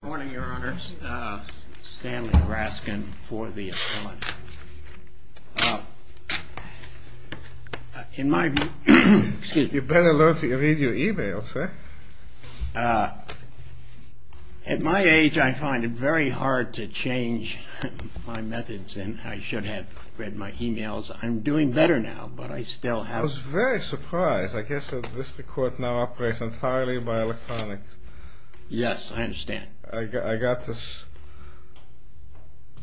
Good morning, your honors. Stanley Raskin for the appellant. In my view... You better learn to read your e-mails, eh? At my age, I find it very hard to change my methods, and I should have read my e-mails. I'm doing better now, but I still have... I was very surprised. I guess this court now operates entirely by electronics. Yes, I understand. I got this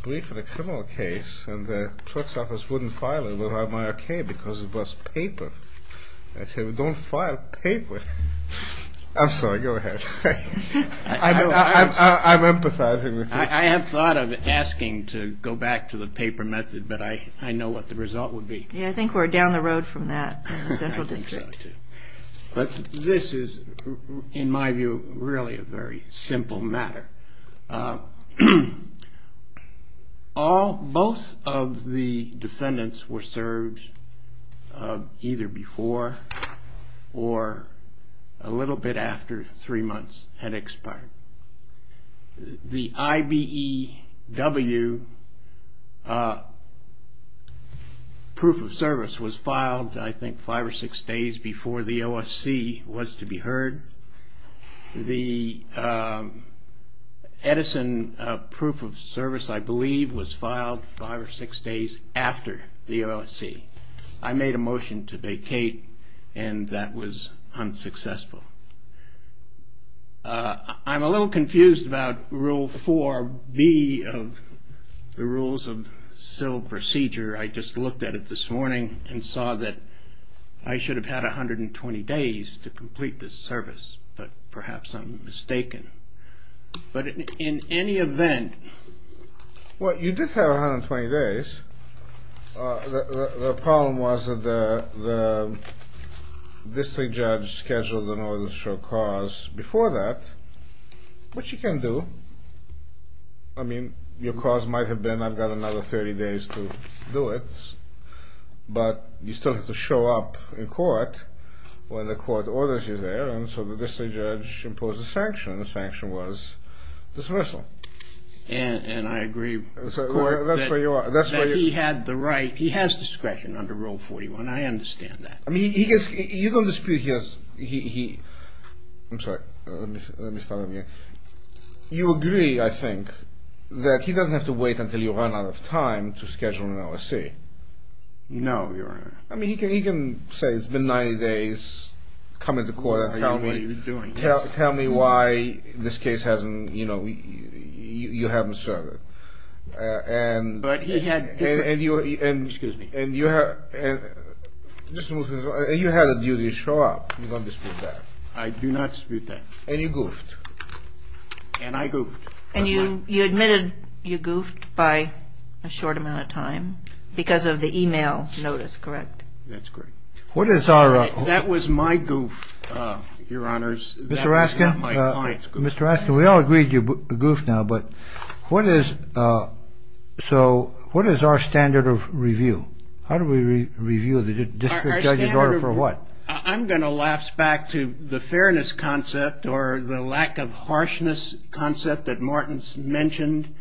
brief in a criminal case, and the court's office wouldn't file it without my okay because it was paper. I said, well, don't file paper. I'm sorry, go ahead. I'm empathizing with you. I have thought of asking to go back to the paper method, but I know what the result would be. Yeah, I think we're down the road from that in the central district. But this is, in my view, really a very simple matter. Both of the defendants were served either before or a little bit after three months had expired. The IBEW proof of service was filed, I think, five or six days before the OSC was to be heard. The Edison proof of service, I believe, was filed five or six days after the OSC. I made a motion to vacate, and that was unsuccessful. I'm a little confused about Rule 4B of the Rules of Civil Procedure. I just looked at it this morning and saw that I should have had 120 days to complete this service, but perhaps I'm mistaken. But in any event. Well, you did have 120 days. The problem was that the district judge scheduled an order to show cause before that, which you can do. I mean, your cause might have been, I've got another 30 days to do it, but you still have to show up in court when the court orders you there, and so the district judge imposed a sanction, and the sanction was dismissal. And I agree with the court that he had the right, he has discretion under Rule 41. I understand that. I mean, you can dispute he has, I'm sorry, let me start again. You agree, I think, that he doesn't have to wait until you run out of time to schedule an OSC. No, Your Honor. I mean, he can say it's been 90 days, come into court and tell me why this case hasn't, you know, you haven't served it. But he had different. Excuse me. And you had a duty to show up. You don't dispute that. I do not dispute that. And you goofed. And I goofed. And you admitted you goofed by a short amount of time because of the e-mail notice, correct? That's correct. Mr. Raskin. That was not my client's goof. Mr. Raskin, we all agreed you goofed now. But what is, so what is our standard of review? How do we review the district judge's order for what? I'm going to lapse back to the fairness concept or the lack of harshness concept that Martin's mentioned.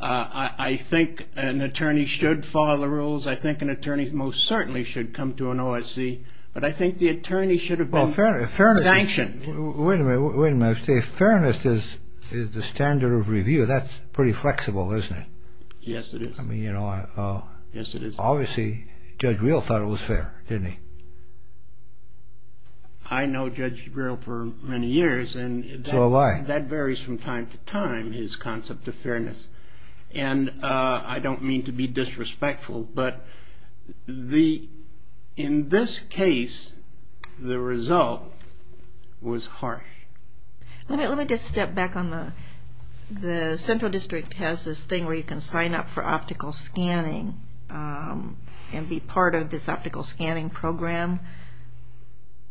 I think an attorney should follow the rules. I think an attorney most certainly should come to an OSC. But I think the attorney should have been sanctioned. Wait a minute. Wait a minute. If fairness is the standard of review, that's pretty flexible, isn't it? Yes, it is. I mean, you know. Yes, it is. Obviously, Judge Real thought it was fair, didn't he? I know Judge Real for many years. So have I. And that varies from time to time, his concept of fairness. And I don't mean to be disrespectful. But in this case, the result was harsh. Let me just step back on the central district has this thing where you can sign up for optical scanning and be part of this optical scanning program.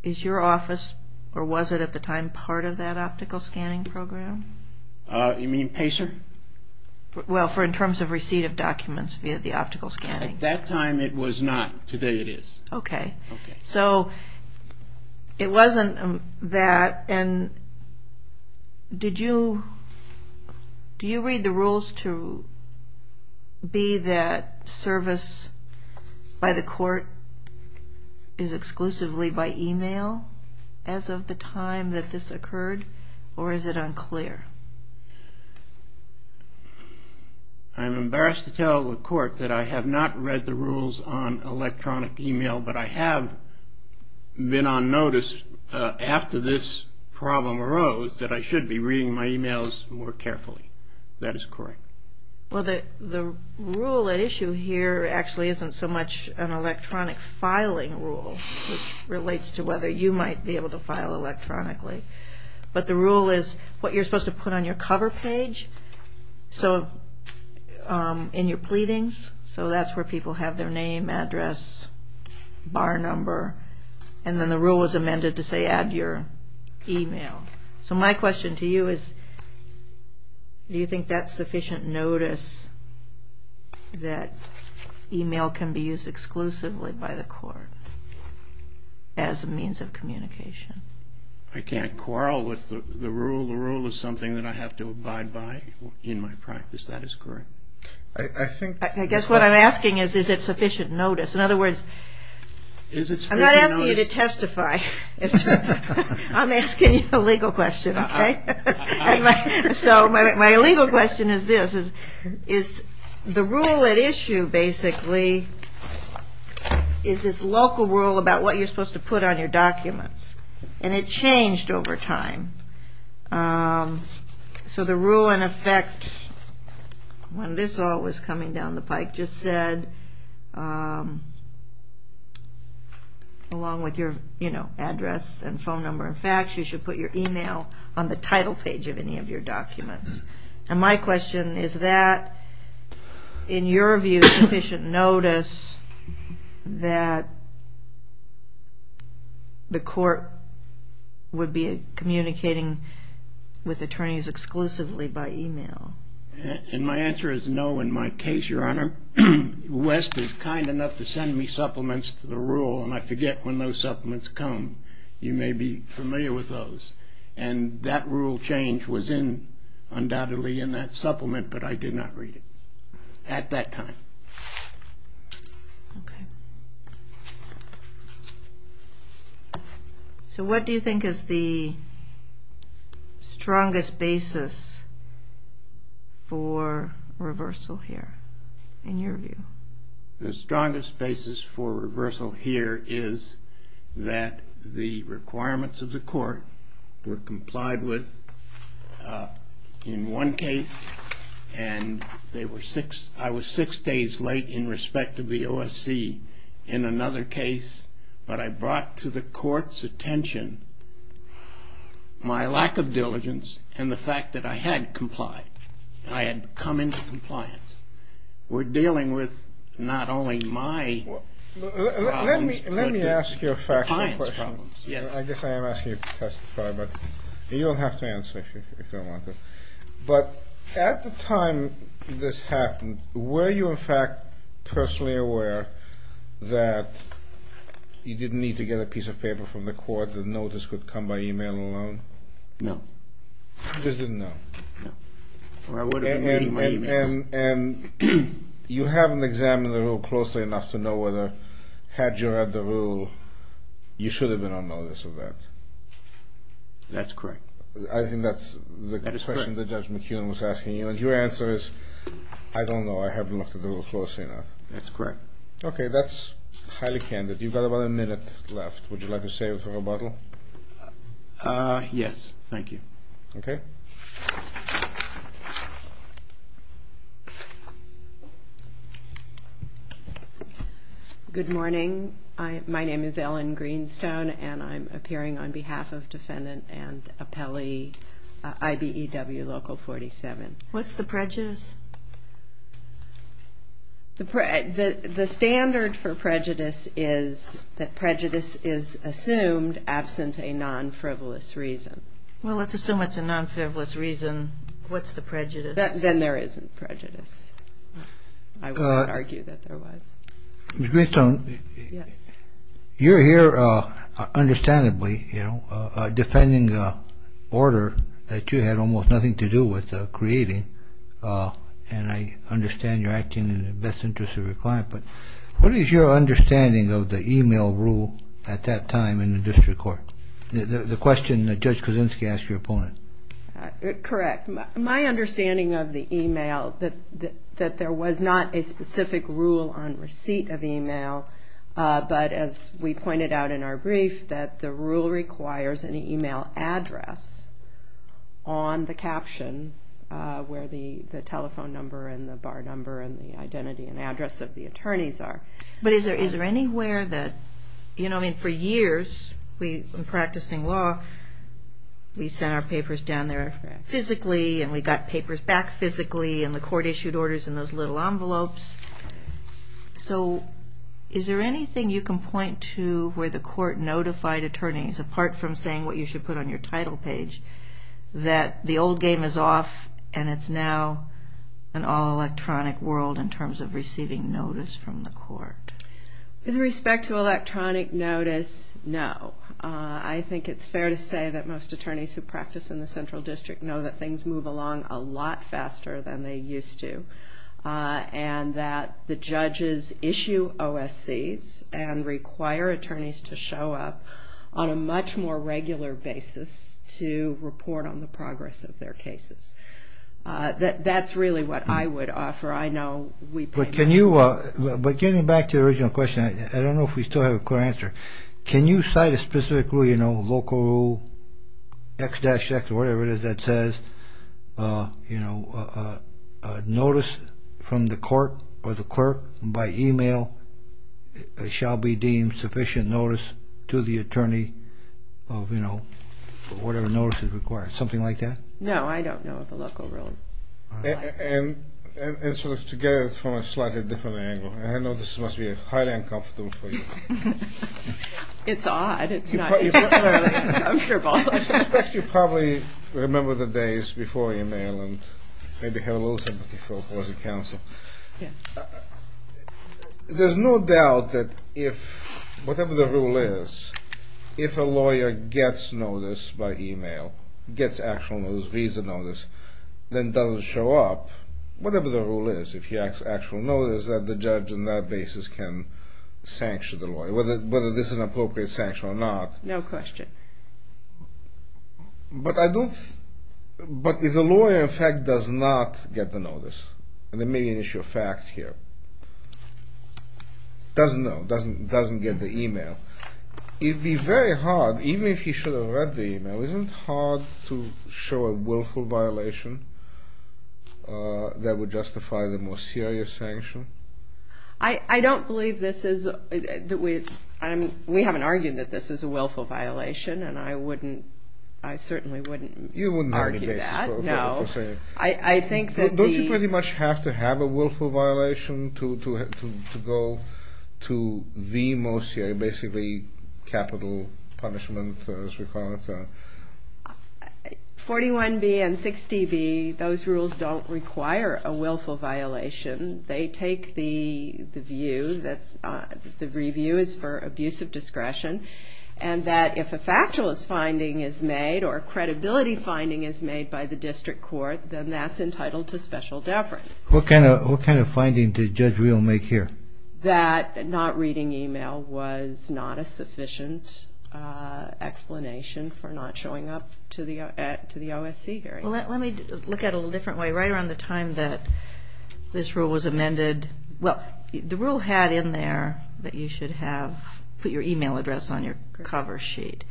Is your office, or was it at the time, part of that optical scanning program? You mean PACER? Well, in terms of receipt of documents via the optical scanning. At that time it was not. Today it is. Okay. So it wasn't that. And did you read the rules to be that service by the court is exclusively by e-mail as of the time that this occurred? Or is it unclear? I'm embarrassed to tell the court that I have not read the rules on electronic e-mail, but I have been on notice after this problem arose that I should be reading my e-mails more carefully. That is correct. Well, the rule at issue here actually isn't so much an electronic filing rule, which relates to whether you might be able to file electronically. But the rule is what you're supposed to put on your cover page in your pleadings. So that's where people have their name, address, bar number. And then the rule was amended to say add your e-mail. So my question to you is, do you think that's sufficient notice that e-mail can be used exclusively by the court as a means of communication? I can't quarrel with the rule. The rule is something that I have to abide by in my practice. That is correct. I guess what I'm asking is, is it sufficient notice? I'm asking you a legal question, okay? So my legal question is this, is the rule at issue basically is this local rule about what you're supposed to put on your documents. And it changed over time. So the rule in effect, when this all was coming down the pike, just said, along with your address and phone number and fax, you should put your e-mail on the title page of any of your documents. And my question is that, in your view, sufficient notice that the court would be communicating with attorneys exclusively by e-mail? And my answer is no in my case, Your Honor. West is kind enough to send me supplements to the rule, and I forget when those supplements come. You may be familiar with those. And that rule change was in, undoubtedly, in that supplement, but I did not read it at that time. Okay. So what do you think is the strongest basis for reversal here, in your view? The strongest basis for reversal here is that the requirements of the court were complied with in one case, and I was six days late in respect of the OSC in another case. But I brought to the court's attention my lack of diligence and the fact that I had complied. I had come into compliance. We're dealing with not only my problems but the client's problems. Let me ask you a factual question. Yes. I guess I am asking you to testify, but you don't have to answer if you don't want to. But at the time this happened, were you, in fact, personally aware that you didn't need to get a piece of paper from the court, the notice would come by e-mail alone? No. You just didn't know? No. And you haven't examined the rule closely enough to know whether, had you read the rule, you should have been on notice of that? That's correct. I think that's the question that Judge McKeon was asking you, and your answer is, I don't know, I haven't looked at the rule closely enough. That's correct. Okay. That's highly candid. You've got about a minute left. Would you like to save it for rebuttal? Yes. Thank you. Okay. Good morning. My name is Ellen Greenstone, and I'm appearing on behalf of Defendant and Appellee IBEW Local 47. What's the prejudice? The standard for prejudice is that prejudice is assumed absent a non-frivolous reason. Well, let's assume it's a non-frivolous reason. What's the prejudice? Then there isn't prejudice. I would not argue that there was. Ms. Greenstone. Yes. You're here, understandably, defending an order that you had almost nothing to do with creating, and I understand you're acting in the best interest of your client, but what is your understanding of the e-mail rule at that time in the district court? The question that Judge Kuczynski asked your opponent. Correct. My understanding of the e-mail, that there was not a specific rule on receipt of e-mail, but as we pointed out in our brief, that the rule requires an e-mail address on the caption where the telephone number and the bar number and the identity and address of the attorneys are. But is there anywhere that, you know, I mean, for years in practicing law, we sent our papers down there physically and we got papers back physically and the court issued orders in those little envelopes. So is there anything you can point to where the court notified attorneys, apart from saying what you should put on your title page, that the old game is off and it's now an all-electronic world in terms of receiving notice from the court? With respect to electronic notice, no. I think it's fair to say that most attorneys who practice in the central district know that things move along a lot faster than they used to and that the judges issue OSCs and require attorneys to show up on a much more regular basis to report on the progress of their cases. That's really what I would offer. I know we pay much more attention. But getting back to the original question, I don't know if we still have a clear answer. Can you cite a specific rule, you know, local X-X or whatever it is that says, you know, notice from the court or the clerk by e-mail shall be deemed sufficient notice to the attorney of, you know, whatever notice is required. Something like that? No, I don't know of a local rule. And sort of to get it from a slightly different angle, I know this must be highly uncomfortable for you. It's odd. It's not particularly uncomfortable. I suspect you probably remember the days before e-mail and maybe have a little sympathy for opposing counsel. Yeah. There's no doubt that if whatever the rule is, if a lawyer gets notice by e-mail, gets actual notice, reads the notice, then doesn't show up, whatever the rule is, if he has actual notice, that the judge on that basis can sanction the lawyer, whether this is an appropriate sanction or not. No question. But I don't... But if the lawyer, in fact, does not get the notice, and there may be an issue of fact here, doesn't know, doesn't get the e-mail, it would be very hard, even if he should have read the e-mail, isn't it hard to show a willful violation that would justify the more serious sanction? I don't believe this is... We haven't argued that this is a willful violation, and I certainly wouldn't argue that. You wouldn't argue that. No. I think that the... Don't you pretty much have to have a willful violation to go to the most serious, basically capital punishment, as we call it? 41B and 60B, those rules don't require a willful violation. They take the view that the review is for abuse of discretion and that if a factualist finding is made or a credibility finding is made by the district court, then that's entitled to special deference. What kind of finding did Judge Reel make here? That not reading e-mail was not a sufficient explanation for not showing up to the OSC hearing. Well, let me look at it a little different way. Right around the time that this rule was amended, well, the rule had in there that you should have put your e-mail address on your cover sheet.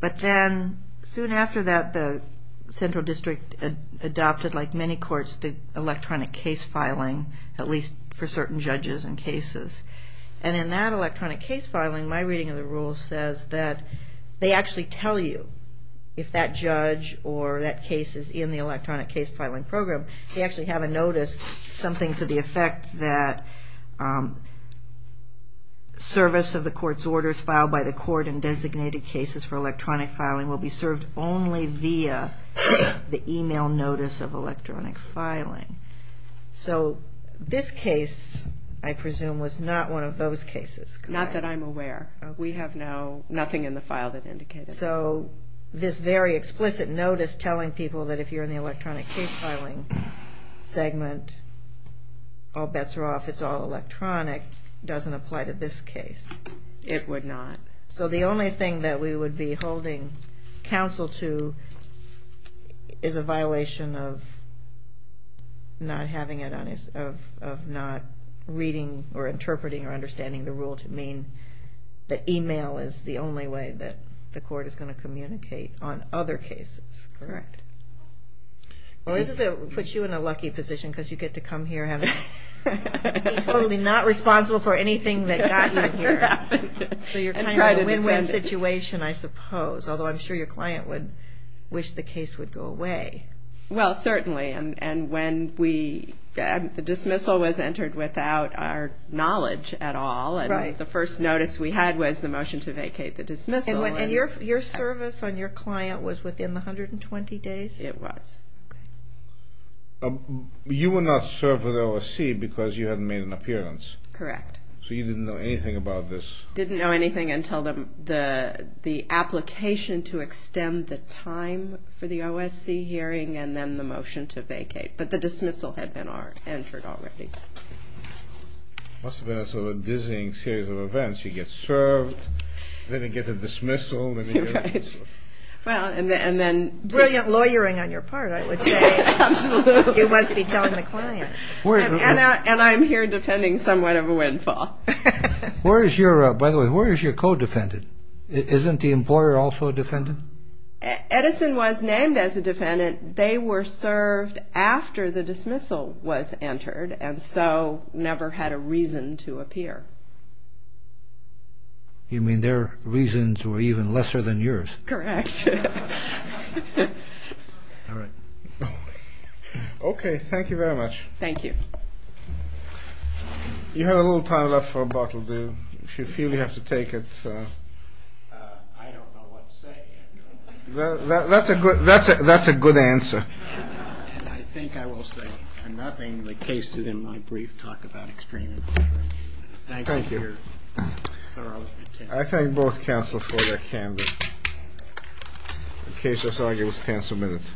But then soon after that, the central district adopted, like many courts, the electronic case filing, at least for certain judges and cases. And in that electronic case filing, my reading of the rule says that they actually tell you if that judge or that case is in the electronic case filing program, they actually have a notice, something to the effect that service of the court's orders filed by the court and designated cases for electronic filing will be served only via the e-mail notice of electronic filing. So this case, I presume, was not one of those cases. Not that I'm aware. We have now nothing in the file that indicates that. And so this very explicit notice telling people that if you're in the electronic case filing segment, all bets are off, it's all electronic, doesn't apply to this case. It would not. So the only thing that we would be holding counsel to is a violation of not reading or interpreting or understanding the rule to mean that e-mail is the only way that the court is going to communicate on other cases. Correct. Well, this puts you in a lucky position because you get to come here and be totally not responsible for anything that got you here. So you're kind of in a win-win situation, I suppose, although I'm sure your client would wish the case would go away. Well, certainly. And when the dismissal was entered without our knowledge at all and the first notice we had was the motion to vacate the dismissal. And your service on your client was within the 120 days? It was. You were not served with OSC because you hadn't made an appearance. Correct. So you didn't know anything about this. Didn't know anything until the application to extend the time for the OSC hearing and then the motion to vacate. But the dismissal had been entered already. It must have been a sort of a dizzying series of events. You get served, then you get a dismissal, then you get a dismissal. Well, and then brilliant lawyering on your part, I would say. Absolutely. You must be telling the client. And I'm here defending somewhat of a windfall. By the way, where is your co-defendant? Isn't the employer also a defendant? Edison was named as a defendant. They were served after the dismissal was entered and so never had a reason to appear. You mean their reasons were even lesser than yours? Correct. Okay, thank you very much. Thank you. You have a little time left for a bottle, do you? If you feel you have to take it. I don't know what to say, Andrew. That's a good answer. And I think I will say, for nothing, the cases in my brief talk about extremism. Thank you. Thank you for your thorough detention. I thank both counsel for their candor. The case is argued as cancelled minutes.